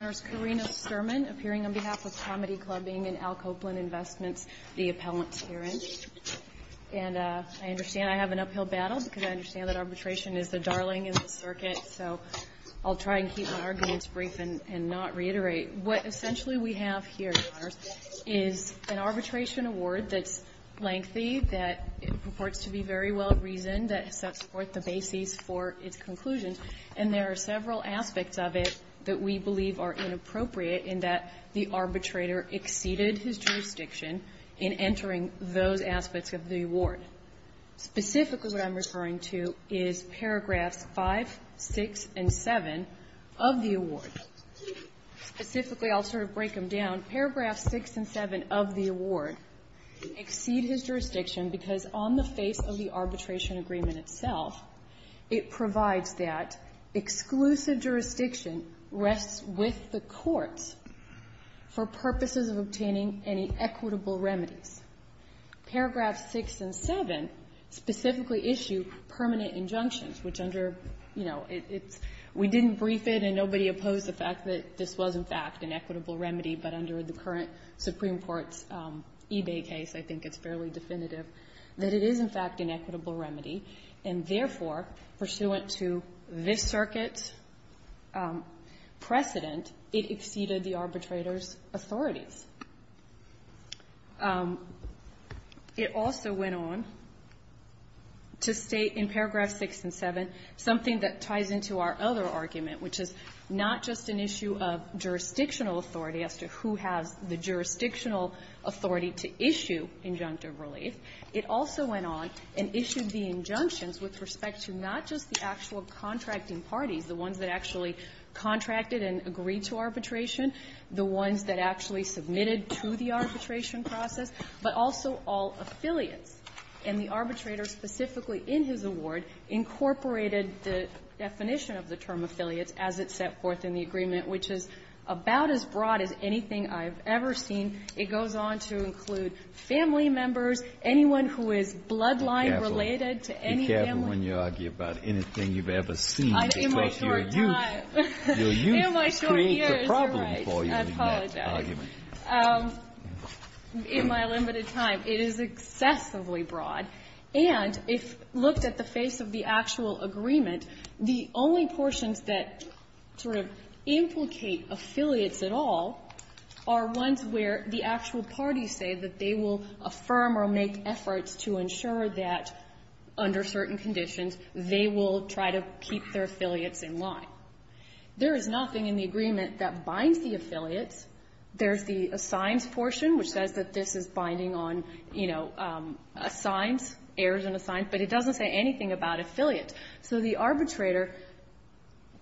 appearing on behalf of COMEDY CLUB being in Al Copeland Investments, the appellant herein. And I understand I have an uphill battle, because I understand that arbitration is the darling of the circuit. So I'll try and keep my arguments brief and not reiterate. What essentially we have here, Your Honors, is an arbitration award that's lengthy, that purports to be very well-reasoned, that sets forth the basis for its conclusions. And there are several aspects of it that we believe are inappropriate in that the arbitrator exceeded his jurisdiction in entering those aspects of the award. Specifically, what I'm referring to is paragraphs 5, 6, and 7 of the award. Specifically, I'll sort of break them down. Paragraphs 6 and 7 of the award exceed his jurisdiction because on the face of the arbitration agreement itself, it provides that exclusive jurisdiction rests with the courts for purposes of obtaining any equitable remedies. Paragraphs 6 and 7 specifically issue permanent injunctions, which under, you know, it's we didn't brief it and nobody opposed the fact that this was, in fact, an equitable remedy, but under the current Supreme Court's eBay case, I think it's fairly definitive that it is, in fact, an equitable remedy. And therefore, pursuant to this Circuit precedent, it exceeded the arbitrator's authorities. It also went on to state in paragraphs 6 and 7 something that ties into our other argument, which is not just an issue of jurisdictional authority as to who has the jurisdictional authority to issue injunctive relief. It also went on and issued the injunctions with respect to not just the actual contracting parties, the ones that actually contracted and agreed to arbitration, the ones that actually submitted to the arbitration process, but also all affiliates. And the arbitrator specifically in his award incorporated the definition of the term affiliates as it set forth in the agreement, which is about as broad as anything I've ever seen. It goes on to include family members, anyone who is bloodline-related to any family. Breyer. Be careful when you argue about anything you've ever seen. I'm in my short time. Your youth creates a problem for you. I apologize. In my limited time. It is excessively broad. And if looked at the face of the actual agreement, the only portions that sort of implicate affiliates at all are ones where the actual parties say that they will affirm or make efforts to ensure that, under certain conditions, they will try to keep their affiliates in line. There is nothing in the agreement that binds the affiliates. There's the assigns portion, which says that this is binding on, you know, assigns, heirs and assigns, but it doesn't say anything about affiliates. So the arbitrator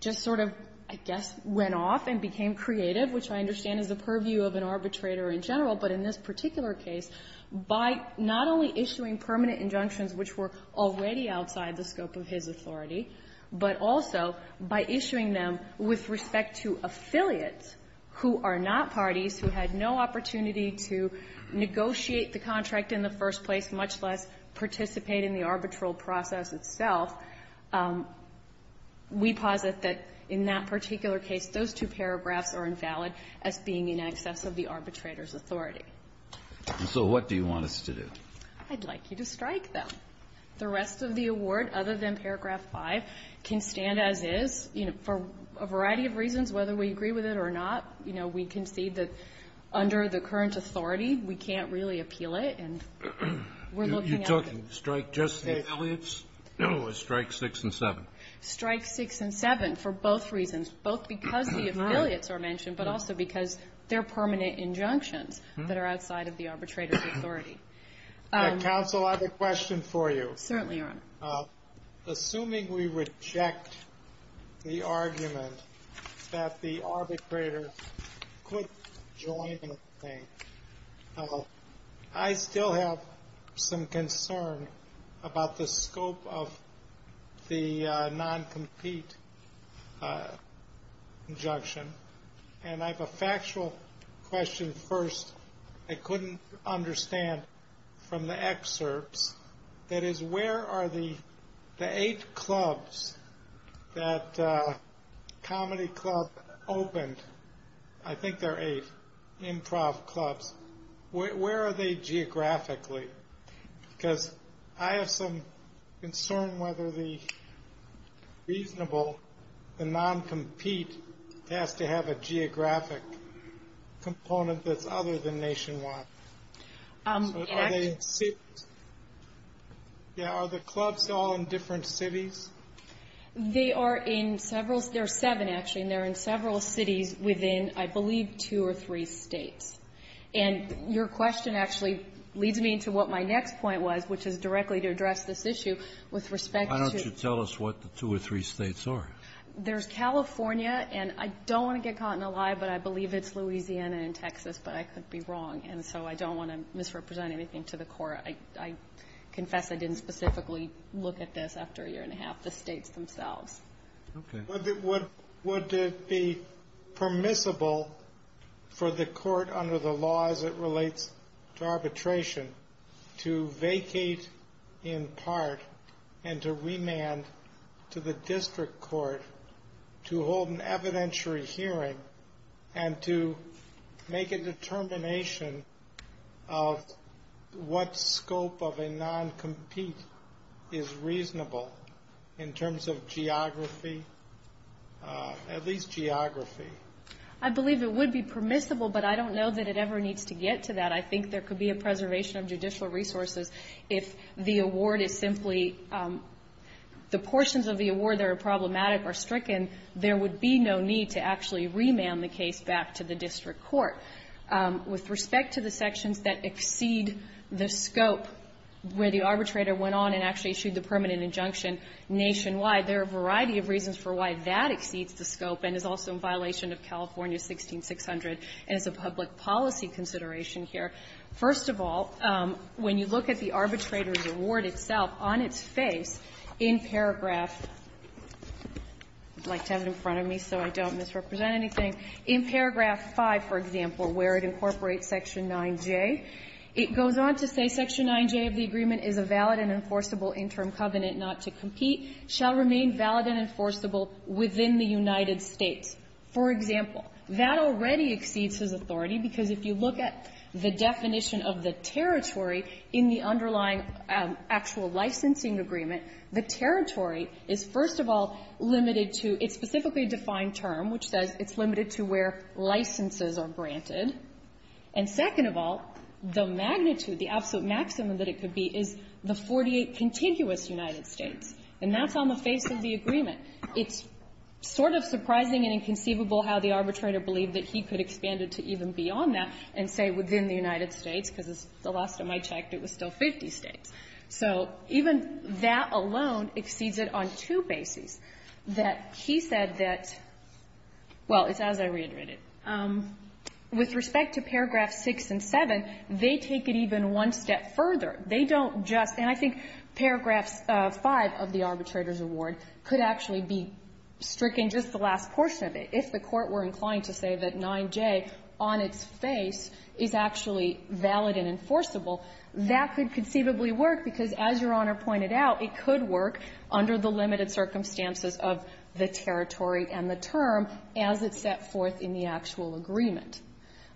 just sort of, I guess, went off and became creative, which I understand is the purview of an arbitrator in general, but in this particular case, by not only issuing permanent injunctions which were already outside the scope of his authority, but also by issuing them with respect to affiliates who are not parties, who had no We posit that, in that particular case, those two paragraphs are invalid as being in excess of the arbitrator's authority. And so what do you want us to do? I'd like you to strike them. The rest of the award, other than paragraph 5, can stand as is, you know, for a variety of reasons, whether we agree with it or not. You know, we concede that under the current authority, we can't really appeal it. And we're looking at it. You're talking to strike just the affiliates, or strike 6 and 7? Strike 6 and 7, for both reasons, both because the affiliates are mentioned, but also because they're permanent injunctions that are outside of the arbitrator's authority. Counsel, I have a question for you. Certainly, Your Honor. Assuming we reject the argument that the arbitrator could join the thing, I still have some concern about the scope of the non-compete injunction. And I have a factual question first. I couldn't understand from the excerpts. That is, where are the eight clubs that Comedy Club opened? I think there are eight improv clubs. Where are they geographically? Because I have some concern whether the reasonable, the non-compete has to have a geographic component that's other than nationwide. So are they in cities? Yeah, are the clubs all in different cities? They are in several. There are seven, actually. And they're in several cities within, I believe, two or three states. And your question actually leads me into what my next point was, which is directly to address this issue with respect to the two or three states. Why don't you tell us what the two or three states are? There's California, and I don't want to get caught in a lie, but I believe it's Louisiana and Texas, but I could be wrong. And so I don't want to misrepresent anything to the Court. I confess I didn't specifically look at this after a year and a half, the states themselves. Okay. Would it be permissible for the court under the law as it relates to arbitration to vacate in part and to remand to the district court to hold an evidentiary hearing and to make a determination of what scope of a non-compete is at least geography? I believe it would be permissible, but I don't know that it ever needs to get to that. I think there could be a preservation of judicial resources if the award is simply the portions of the award that are problematic or stricken, there would be no need to actually remand the case back to the district court. With respect to the sections that exceed the scope where the arbitrator went on and actually issued the permanent injunction nationwide, there are a variety of reasons for why that exceeds the scope and is also in violation of California 16600 and is a public policy consideration here. First of all, when you look at the arbitrator's award itself on its face, in paragraph – I'd like to have it in front of me so I don't misrepresent anything – in paragraph 5, for example, where it incorporates section 9J, it goes on to say, Section 9J of the agreement is a valid and enforceable interim covenant not to compete, shall remain valid and enforceable within the United States. For example, that already exceeds his authority, because if you look at the definition of the territory in the underlying actual licensing agreement, the territory is, first of all, limited to its specifically defined term, which says it's limited to where licenses are granted. And second of all, the magnitude, the absolute maximum that it could be, is the 48 contiguous United States. And that's on the face of the agreement. It's sort of surprising and inconceivable how the arbitrator believed that he could expand it to even beyond that and say within the United States, because the last time I checked, it was still 50 states. So even that alone exceeds it on two bases, that he said that – well, it's as I reiterated. With respect to paragraph 6 and 7, they take it even one step further. They don't just – and I think paragraphs 5 of the arbitrator's award could actually be stricken just the last portion of it. If the Court were inclined to say that 9J on its face is actually valid and enforceable, that could conceivably work, because as Your Honor pointed out, it could work under the limited circumstances of the territory and the term as it's set forth in the actual agreement.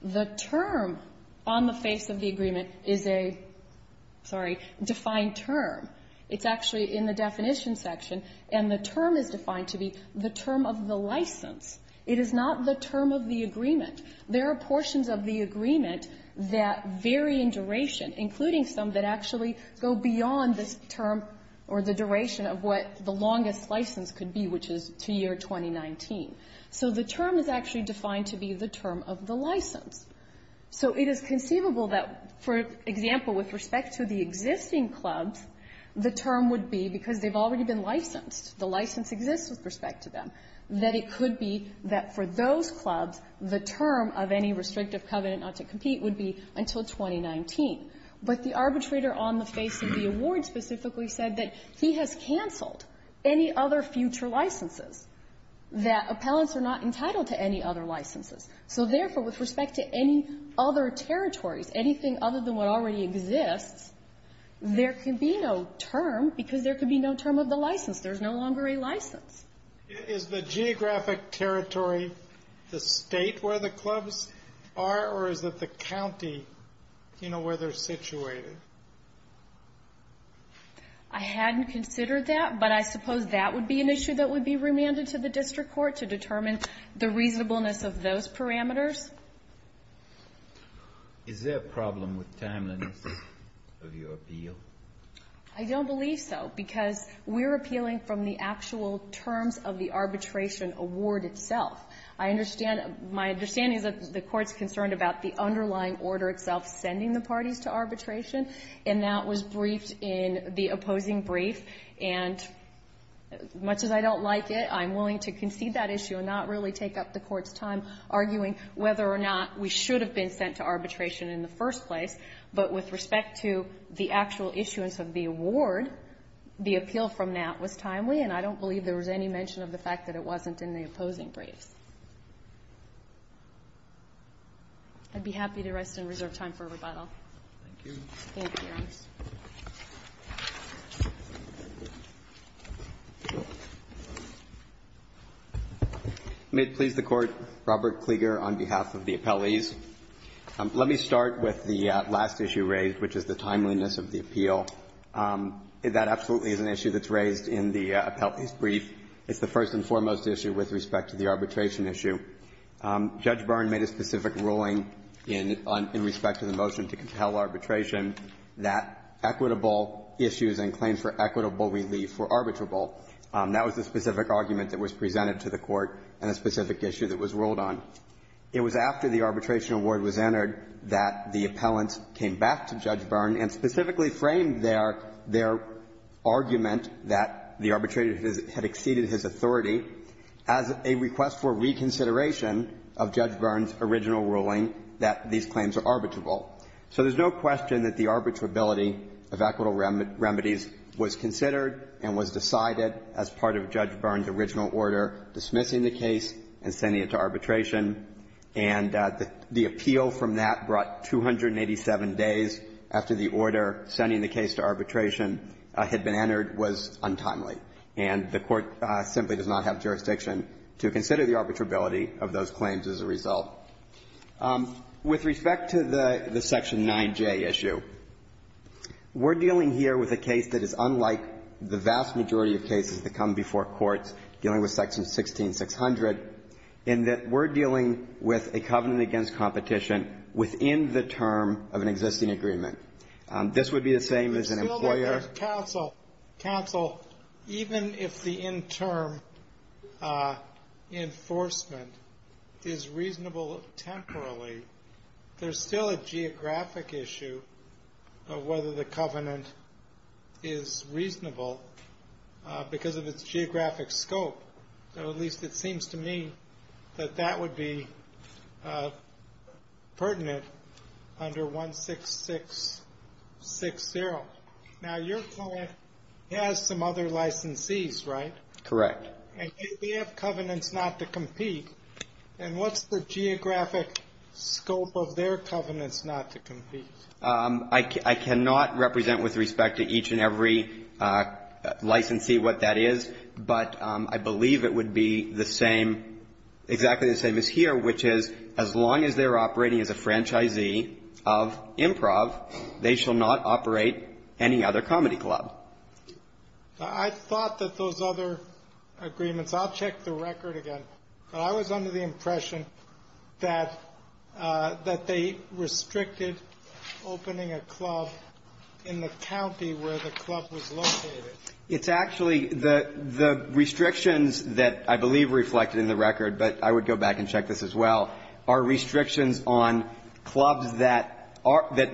The term on the face of the agreement is a – sorry – defined term. It's actually in the definition section, and the term is defined to be the term of the license. It is not the term of the agreement. There are portions of the agreement that vary in duration, including some that actually go beyond this term or the duration of what the longest license could be, which is to year 2019. So the term is actually defined to be the term of the license. So it is conceivable that, for example, with respect to the existing clubs, the term would be, because they've already been licensed, the license exists with respect to them, that it could be that for those clubs, the term of any restrictive covenant not to compete would be until 2019. But the arbitrator on the face of the award specifically said that he has canceled any other future licenses, that appellants are not entitled to any other licenses. So therefore, with respect to any other territories, anything other than what already exists, there can be no term because there can be no term of the license. There's no longer a license. Is the geographic territory the state where the clubs are, or is it the county, you know, where they're situated? I hadn't considered that, but I suppose that would be an issue that would be remanded to the district court to determine the reasonableness of those parameters. Is there a problem with timeliness of your appeal? I don't believe so, because we're appealing from the actual terms of the arbitration award itself. I understand, my understanding is that the court's concerned about the underlying order itself sending the parties to arbitration, and that was briefed in the opposing brief. And as much as I don't like it, I'm willing to concede that issue and not really take up the court's time arguing whether or not we should have been sent to arbitration in the first place. But with respect to the actual issuance of the award, the appeal from that was timely, and I don't believe there was any mention of the fact that it wasn't in the opposing briefs. I'd be happy to rest and reserve time for rebuttal. Thank you, Your Honor. May it please the Court, Robert Klieger on behalf of the appellees. Let me start with the last issue raised, which is the timeliness of the appeal. That absolutely is an issue that's raised in the appellee's brief. It's the first and foremost issue with respect to the arbitration issue. Judge Byrne made a specific ruling in respect to the motion to compel arbitration that equitable issues and claims for equitable relief were arbitrable. That was the specific argument that was presented to the Court and the specific issue that was ruled on. It was after the arbitration award was entered that the appellants came back to Judge Byrne's original order, dismissing the case and sending it to arbitration. And the appeal from that brought 287 days after the order, sending the case to arbitration, are arbitrable. And the court simply does not have jurisdiction to consider the arbitrability of those claims as a result. With respect to the Section 9J issue, we're dealing here with a case that is unlike the vast majority of cases that come before courts dealing with Section 16600, in that we're dealing with a covenant against competition within the term of an existing agreement. This would be the same as an employer. Counsel, even if the interim enforcement is reasonable temporally, there's still a geographic issue of whether the covenant is reasonable because of its geographic scope. So at least it seems to me that that would be pertinent under 16660. Now, your client has some other licensees, right? Correct. And yet they have covenants not to compete. And what's the geographic scope of their covenants not to compete? I cannot represent with respect to each and every licensee what that is. But I believe it would be the same, exactly the same as here, which is as long as they're operating as a franchisee of Improv, they shall not operate any other comedy club. I thought that those other agreements, I'll check the record again. I was under the impression that they restricted opening a club in the county where the club was located. It's actually the restrictions that I believe reflected in the record, but I would go back and check this as well, are restrictions on clubs that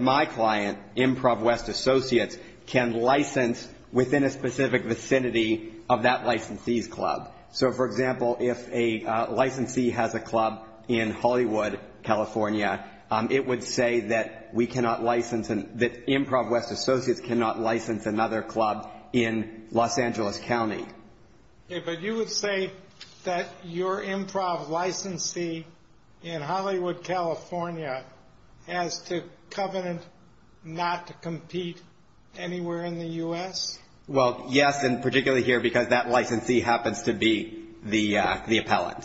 my client, Improv West Associates, can license within a specific vicinity of that licensee's club. So for example, if a licensee has a club in Hollywood, California, it would say that Improv West Associates cannot license another club in Los Angeles County. But you would say that your Improv licensee in Hollywood, California, has to covenant not to compete anywhere in the US? Well, yes, and particularly here because that licensee happens to be the appellant.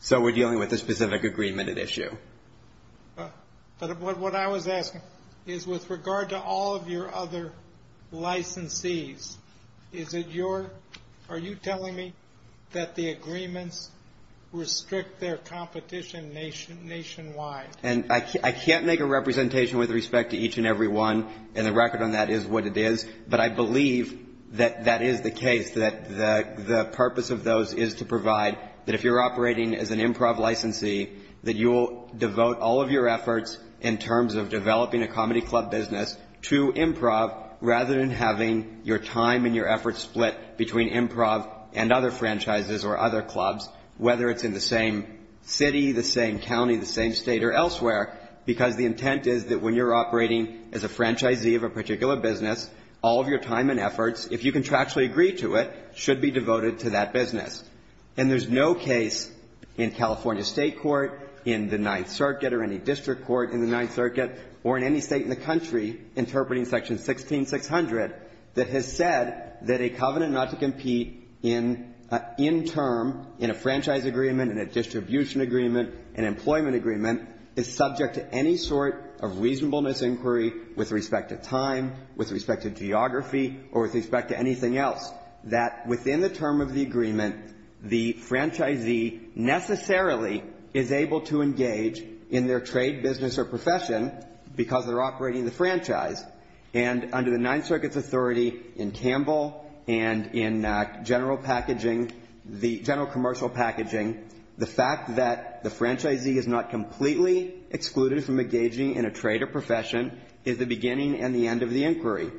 So we're dealing with a specific agreement at issue. But what I was asking is with regard to all of your other licensees, is it your, are you telling me that the agreements restrict their competition nationwide? And I can't make a representation with respect to each and every one, and the record on that is what it is. But I believe that that is the case, that the purpose of those is to provide that if you're operating as an Improv licensee, that you'll devote all of your efforts in terms of developing a comedy club business to Improv rather than having your time and your efforts split between Improv and other franchises or other clubs, whether it's in the same city, the same county, the same state or elsewhere. Because the intent is that when you're operating as a franchisee of a particular business, all of your time and efforts, if you contractually agree to it, should be devoted to that business. And there's no case in California State Court, in the Ninth Circuit, or any district court in the Ninth Circuit, or in any state in the country, interpreting section 16600, that has said that a covenant not to compete in term, in a franchise agreement, in a distribution agreement, an employment agreement, is subject to any sort of reasonableness inquiry with respect to time, with respect to geography, or with respect to anything else. That within the term of the agreement, the franchisee necessarily is able to engage in their trade business or profession because they're operating the franchise. And under the Ninth Circuit's authority in Campbell and in general packaging, the general commercial packaging, the fact that the franchisee is not completely excluded from engaging in a trade or profession is the beginning and the end of the inquiry.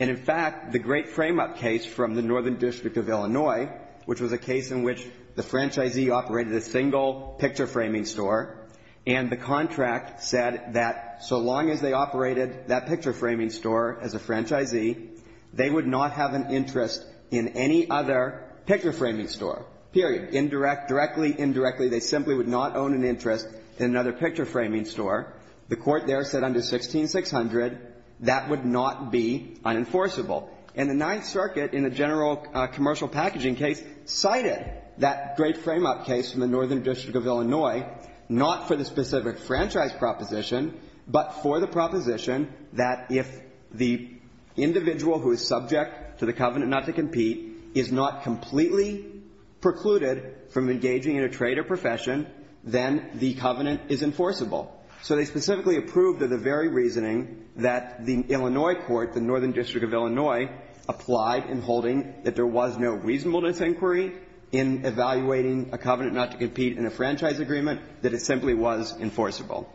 And in fact, the great frame up case from the Northern District of Illinois, which was a case in which the franchisee operated a single picture framing store. And the contract said that so long as they operated that picture framing store as a franchisee, they would not have an interest in any other picture framing store, period. Indirect, directly, indirectly, they simply would not own an interest in another picture framing store. The court there said under 16600, that would not be unenforceable. And the Ninth Circuit in the general commercial packaging case cited that great frame up case from the Northern District of Illinois, not for the specific franchise proposition, but for the proposition that if the individual who is subject to the covenant not to compete is not completely precluded from engaging in a trade or profession, then the covenant is enforceable. So they specifically approved of the very reasoning that the Illinois court, the Northern District of Illinois, applied in holding that there was no reasonableness inquiry in evaluating a covenant not to compete in a franchise agreement, that it simply was enforceable.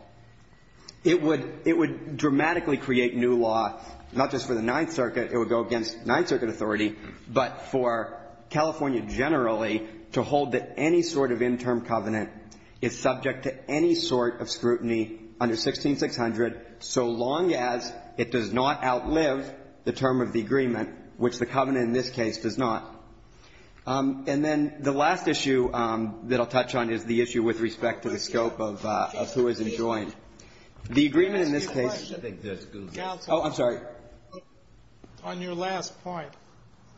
It would dramatically create new law, not just for the Ninth Circuit. It would go against Ninth Circuit authority, but for California generally to hold that any sort of interim covenant is subject to any sort of scrutiny under 16600, so long as it does not outlive the term of the agreement, which the covenant in this case does not. And then the last issue that I'll touch on is the issue with respect to the scope of who is enjoined. The agreement in this case. I think this goes. Oh, I'm sorry. On your last point,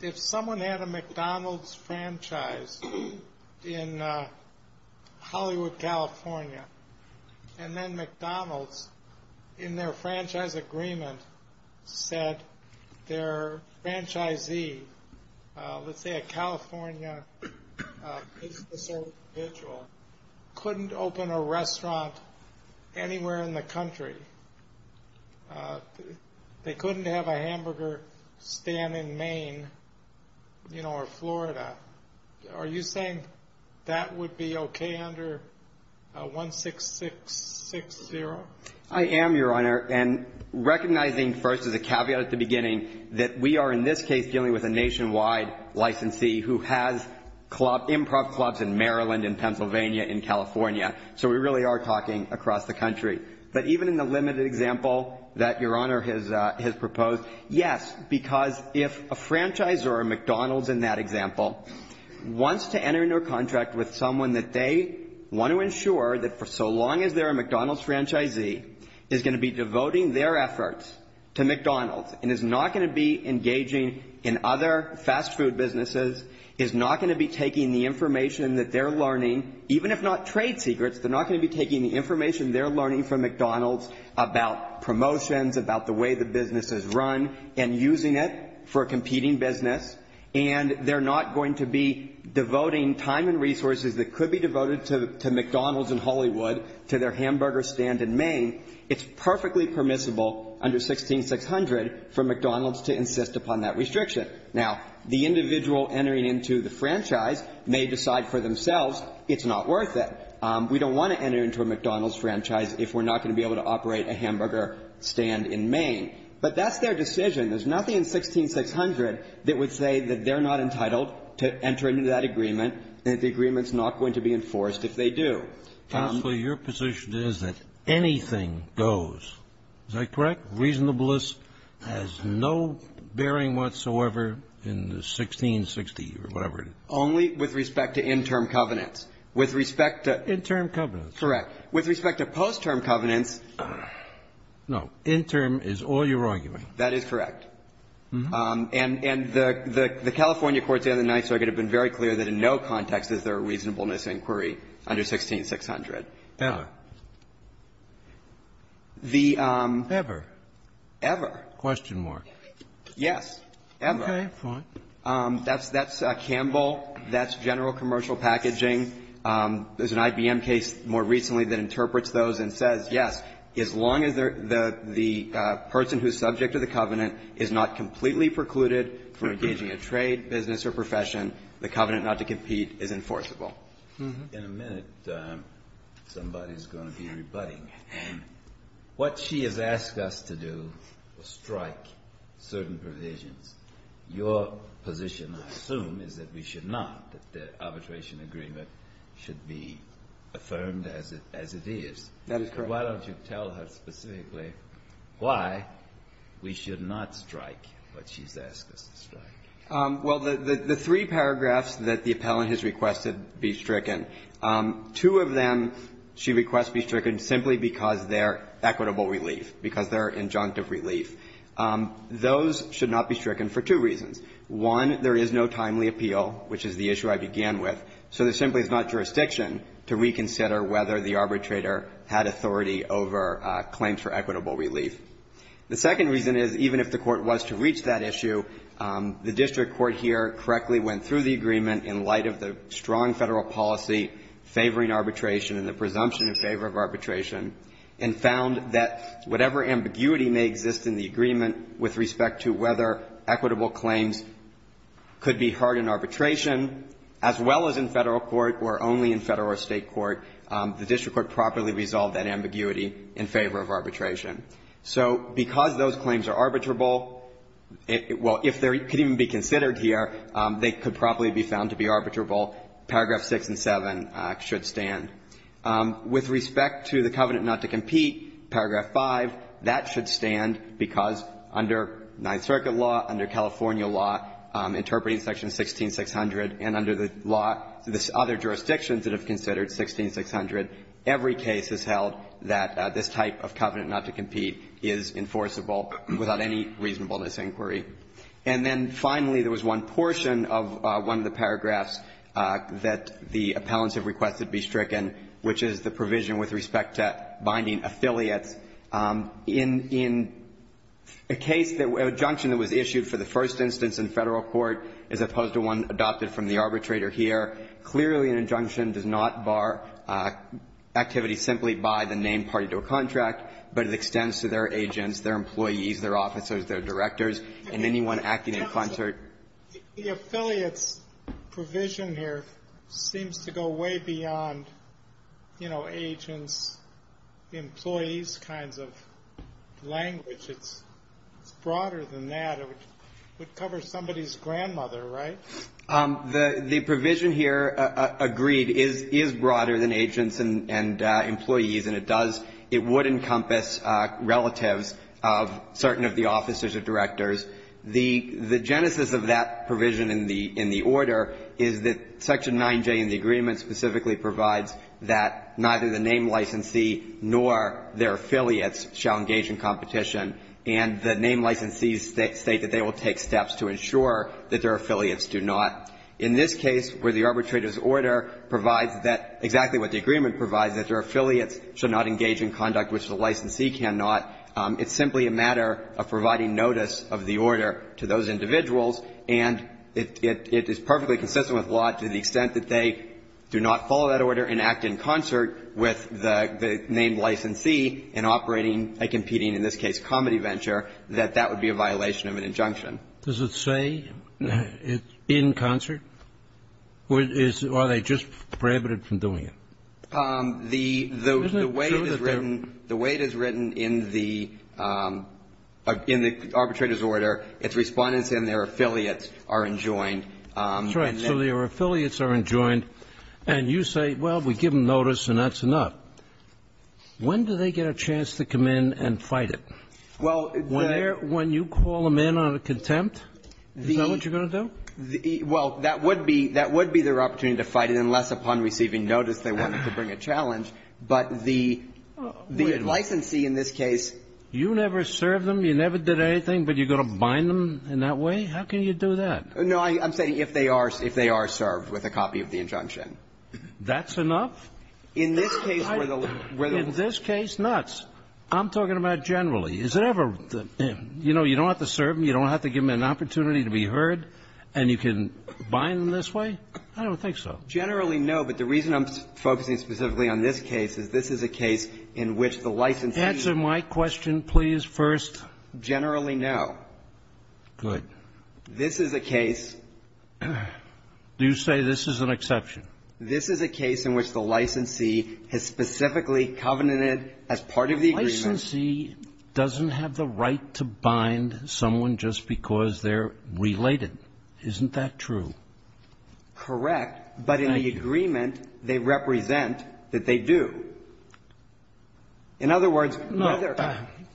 if someone had a McDonald's franchise in Hollywood, California, and then McDonald's, in their franchise agreement, said their franchisee, let's say a California business individual, couldn't open a restaurant anywhere in the country. They couldn't have a hamburger stand in Maine or Florida. Are you saying that would be okay under 16660? I am, Your Honor. And recognizing first, as a caveat at the beginning, that we are in this case dealing with a nationwide licensee who has improv clubs in Maryland, in Pennsylvania, in California. So we really are talking across the country. But even in the limited example that Your Honor has proposed, yes, because if a franchisor, a McDonald's in that example, wants to enter into a contract with someone that they want to ensure that for so long as they're a McDonald's franchisee, is going to be devoting their efforts to McDonald's and is not going to be engaging in other fast food businesses, is not going to be taking the information that they're learning, even if not trade secrets, they're not going to be taking the information they're learning from McDonald's about promotions, about the way the business is run, and using it for a competing business. And they're not going to be devoting time and resources that could be devoted to McDonald's in Hollywood, to their hamburger stand in Maine. It's perfectly permissible under 16600 for McDonald's to insist upon that restriction. Now, the individual entering into the franchise may decide for themselves, it's not worth it. We don't want to enter into a McDonald's franchise if we're not going to be able to operate a hamburger stand in Maine. But that's their decision. There's nothing in 16600 that would say that they're not entitled to enter into that agreement, and that the agreement's not going to be enforced if they do. Counselor, your position is that anything goes. Is that correct? Reasonableness has no bearing whatsoever in the 1660, or whatever it is. Only with respect to interim covenants. With respect to the interim covenants. Correct. With respect to post-term covenants. No. Interim is all you're arguing. That is correct. And the California Courts and the Ninth Circuit have been very clear that in no context is there a reasonableness inquiry under 16600. Ever? The ever. Ever. Question mark. Yes. Ever. Okay. Fine. That's Campbell. That's general commercial packaging. There's an IBM case more recently that interprets those and says, yes, as long as the person who's subject to the covenant is not completely precluded from engaging a trade, business, or profession, the covenant not to compete is enforceable. In a minute, somebody's going to be rebutting. What she has asked us to do was strike certain provisions. Your position, I assume, is that we should not, that the arbitration agreement should be affirmed as it is. That is correct. Why don't you tell her specifically why we should not strike what she's asked us to strike? Well, the three paragraphs that the appellant has requested be stricken, two of them she requests be stricken simply because they're equitable relief, because they're injunctive relief. Those should not be stricken for two reasons. One, there is no timely appeal, which is the issue I began with. So there simply is not jurisdiction to reconsider whether the arbitrator had authority over claims for equitable relief. The second reason is, even if the Court was to reach that issue, the district court here correctly went through the agreement in light of the strong Federal policy favoring arbitration and the presumption in favor of arbitration, and found that whatever ambiguity may exist in the agreement with respect to whether equitable claims could be heard in arbitration, as well as in Federal court or only in Federal or State court, the district court properly resolved that ambiguity in favor of arbitration. So because those claims are arbitrable, well, if they could even be considered here, they could probably be found to be arbitrable. Paragraphs 6 and 7 should stand. With respect to the covenant not to compete, paragraph 5, that should stand because under Ninth Circuit law, under California law, interpreting section 16600, and under the law, the other jurisdictions that have considered 16600, every case has held that this type of covenant not to compete is enforceable without any reasonableness inquiry. And then finally, there was one portion of one of the paragraphs that the appellants have requested be stricken, which is the provision with respect to binding affiliates. In a case that was issued for the first instance in Federal court as opposed to one adopted from the arbitrator here, clearly an injunction does not bar activity simply by the named party to a contract, but it extends to their agents, their employees, their officers, their directors, and anyone acting in concert. The affiliates provision here seems to go way beyond, you know, agents, employees kinds of language. It's broader than that. It would cover somebody's grandmother, right? The provision here, agreed, is broader than agents and employees, and it does it would encompass relatives of certain of the officers or directors. The genesis of that provision in the order is that Section 9J in the agreement specifically provides that neither the named licensee nor their affiliates shall engage in competition, and the named licensees state that they will take steps to ensure that their affiliates do not. In this case, where the arbitrator's order provides that, exactly what the agreement provides, that their affiliates should not engage in conduct which the licensee cannot, it's simply a matter of providing notice of the order to those individuals, and it is perfectly consistent with law to the extent that they do not follow that order and act in concert with the named licensee in operating a competing, in this case, comedy venture, that that would be a violation of an injunction. Does it say in concert? Or are they just prohibited from doing it? The way it is written, the way it is written in the arbitrator's order, its Respondents and their affiliates are enjoined. That's right. So their affiliates are enjoined, and you say, well, we give them notice and that's enough. When do they get a chance to come in and fight it? Well, there When you call them in on a contempt, is that what you're going to do? Well, that would be their opportunity to fight it unless upon receiving notice they wanted to bring a challenge. But the licensee in this case You never served them, you never did anything, but you're going to bind them in that way? How can you do that? No, I'm saying if they are served with a copy of the injunction. That's enough? In this case, we're the In this case, nuts. I'm talking about generally. Is it ever, you know, you don't have to serve them, you don't have to give them an opportunity to be heard, and you can bind them this way? I don't think so. Generally, no. But the reason I'm focusing specifically on this case is this is a case in which the licensee Answer my question, please, first. Generally, no. Good. This is a case Do you say this is an exception? This is a case in which the licensee has specifically covenanted as part of the agreement The licensee doesn't have the right to bind someone just because they're related. Isn't that true? Correct. But in the agreement, they represent that they do. In other words, whether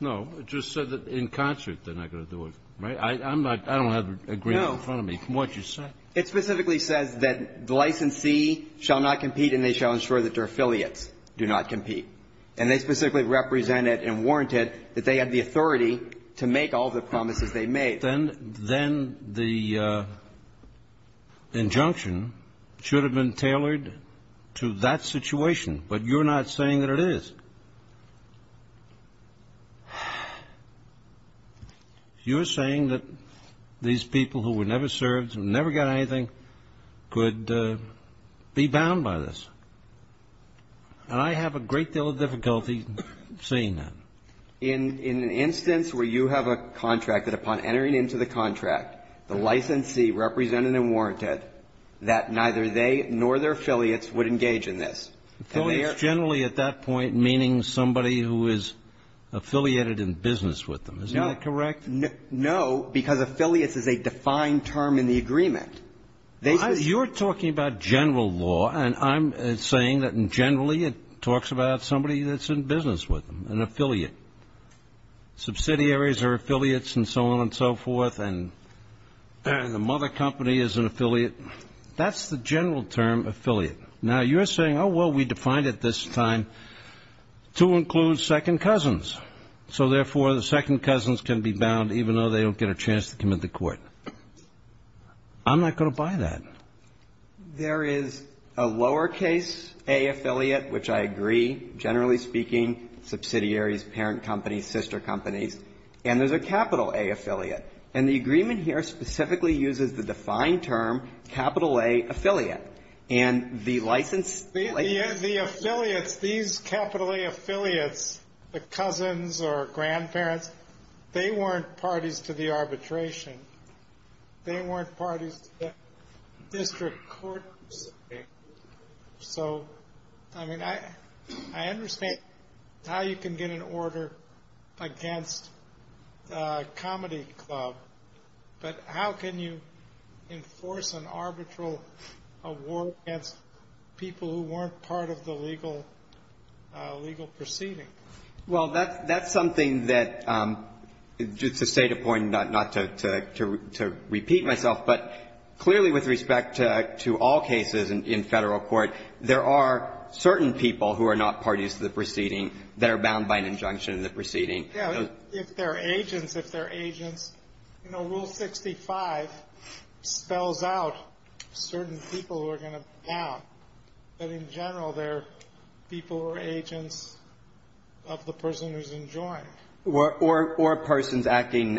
No. It just said that in concert, they're not going to do it, right? I'm not I don't have an agreement in front of me from what you said. It specifically says that the licensee shall not compete and they shall ensure that their affiliates do not compete. And they specifically represent it and warrant it that they have the authority to make all the promises they made. If that's the case, then the injunction should have been tailored to that situation. But you're not saying that it is. You're saying that these people who were never served, never got anything, could be bound by this. And I have a great deal of difficulty saying that. In an instance where you have a contract that upon entering into the contract, the licensee represented and warranted that neither they nor their affiliates would engage in this. Affiliates generally at that point meaning somebody who is affiliated in business with them. Is that correct? No, because affiliates is a defined term in the agreement. You're talking about general law, and I'm saying that generally it talks about somebody that's in business with them, an affiliate. Subsidiaries are affiliates and so on and so forth, and the mother company is an affiliate. That's the general term, affiliate. Now, you're saying, oh, well, we defined it this time to include second cousins. So, therefore, the second cousins can be bound even though they don't get a chance to commit the court. I'm not going to buy that. There is a lower case A affiliate, which I agree, generally speaking, subsidiaries, parent companies, sister companies, and there's a capital A affiliate. And the agreement here specifically uses the defined term capital A affiliate. And the licensee later on was an affiliate. The affiliates, these capital A affiliates, the cousins or grandparents, they weren't parties to the arbitration. They weren't parties to the district court proceeding. So, I mean, I understand how you can get an order against a comedy club, but how can you enforce an arbitral award against people who weren't part of the legal proceeding? Well, that's something that, just to state a point, not to repeat myself, but clearly with respect to all cases in Federal court, there are certain people who are not parties to the proceeding that are bound by an injunction in the proceeding. Yeah. If they're agents, if they're agents, you know, Rule 65 spells out certain people who are going to be bound, but in general, they're people or agents of the person who's enjoined. Or persons acting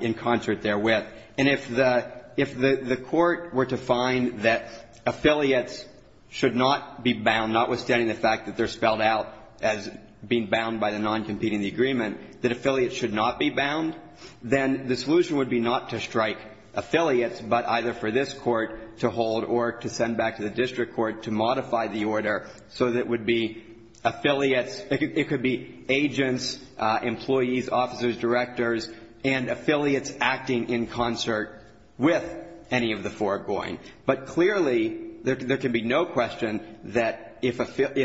in concert therewith. And if the court were to find that affiliates should not be bound, notwithstanding the fact that they're spelled out as being bound by the non-competing agreement, that affiliates should not be bound, then the solution would be not to strike affiliates, but either for this court to hold or to send back to the district court to modify the order so that it would be affiliates, it could be agents, employees, officers, directors, and affiliates acting in concert with any of the foregoing. But clearly, there can be no question that if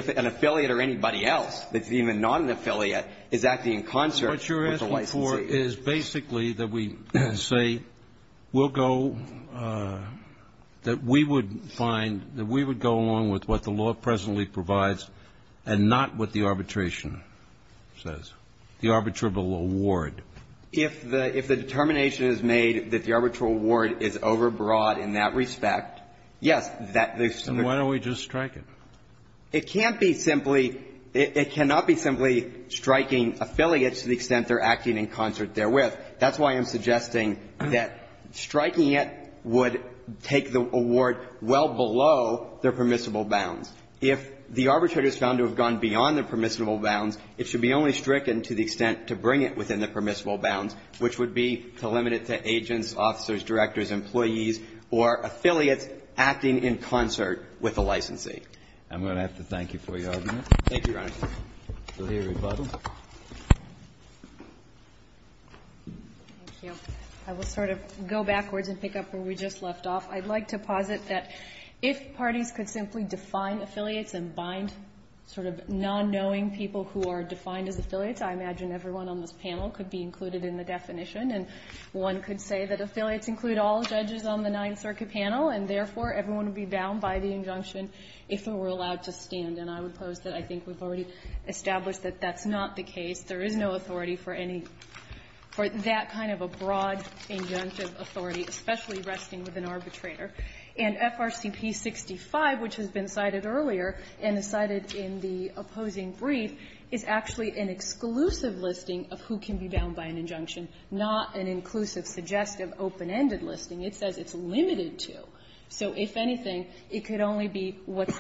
an affiliate or anybody else that's even not an affiliate is acting in concert with the licensee. Kennedy, is basically that we say we'll go, that we would find, that we would go along with what the law presently provides and not what the arbitration says, the arbitrable award. If the determination is made that the arbitral award is overbroad in that respect, yes, that is to the extent. Then why don't we just strike it? It can't be simply, it cannot be simply striking affiliates to the extent they're acting in concert therewith. That's why I'm suggesting that striking it would take the award well below their permissible bounds. If the arbitrator is found to have gone beyond the permissible bounds, it should be only stricken to the extent to bring it within the permissible bounds, which would be to limit it to agents, officers, directors, employees, or affiliates acting in concert with the licensee. Thank you, Your Honor. Go ahead, Rebuttal. Thank you. I will sort of go backwards and pick up where we just left off. I'd like to posit that if parties could simply define affiliates and bind sort of non-knowing people who are defined as affiliates, I imagine everyone on this panel could be included in the definition, and one could say that affiliates include all judges on the Ninth Circuit panel, and therefore, everyone would be bound by the injunction if they were allowed to stand. And I would pose that I think we've already established that that's not the case. There is no authority for any – for that kind of a broad injunctive authority, especially resting with an arbitrator. And FRCP 65, which has been cited earlier and is cited in the opposing brief, is actually an exclusive listing of who can be bound by an injunction, not an inclusive, suggestive, open-ended listing. It says it's limited to. So if anything, it could only be what's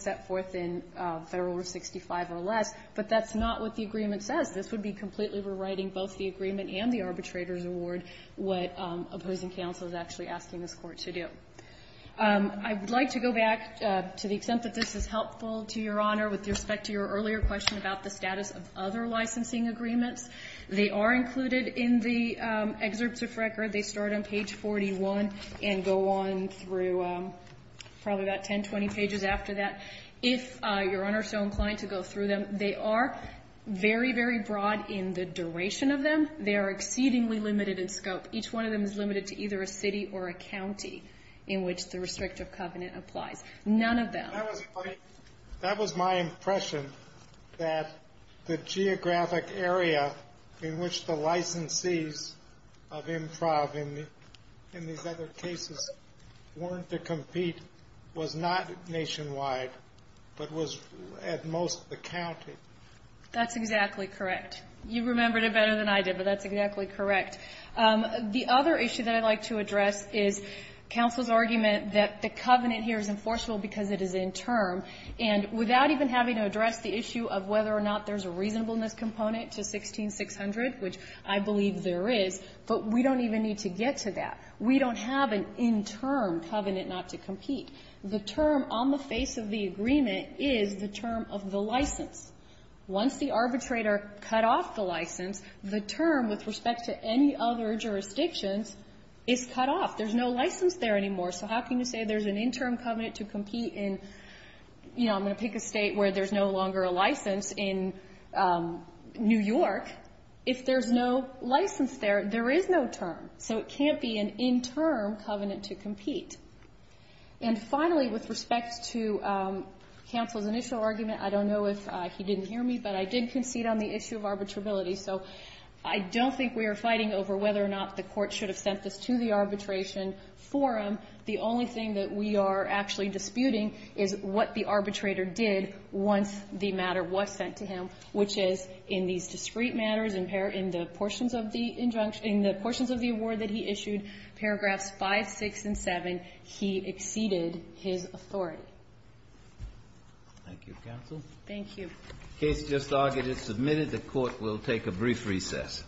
set forth in Federal Rule 65 or less, but that's not what the agreement says. This would be completely rewriting both the agreement and the arbitrator's award, what opposing counsel is actually asking this Court to do. I would like to go back, to the extent that this is helpful to Your Honor, with respect to your earlier question about the status of other licensing agreements. They are included in the excerpt of record. They start on page 41 and go on through probably about 10, 20 pages after that. If Your Honor is so inclined to go through them, they are very, very broad in the duration of them. They are exceedingly limited in scope. Each one of them is limited to either a city or a county in which the restrictive covenant applies. None of them. But that was my impression, that the geographic area in which the licensees of IMPROV in these other cases weren't to compete was not nationwide, but was at most the county. That's exactly correct. You remembered it better than I did, but that's exactly correct. The other issue that I'd like to address is counsel's argument that the covenant here is enforceable because it is in term, and without even having to address the issue of whether or not there's a reasonableness component to 16-600, which I believe there is, but we don't even need to get to that. We don't have an in-term covenant not to compete. The term on the face of the agreement is the term of the license. Once the arbitrator cut off the license, the term with respect to any other jurisdictions is cut off. There's no license there anymore. So how can you say there's an in-term covenant to compete in, you know, I'm going to pick a state where there's no longer a license in New York. If there's no license there, there is no term. So it can't be an in-term covenant to compete. And finally, with respect to counsel's initial argument, I don't know if he didn't hear me, but I did concede on the issue of arbitrability. So I don't think we are fighting over whether or not the court should have sent this to the arbitration forum. The only thing that we are actually disputing is what the arbitrator did once the matter was sent to him, which is in these discrete matters, in the portions of the award that he issued, paragraphs 5, 6, and 7, he exceeded his authority. Thank you, counsel. Thank you. The case just argued is submitted. The Court will take a brief recess.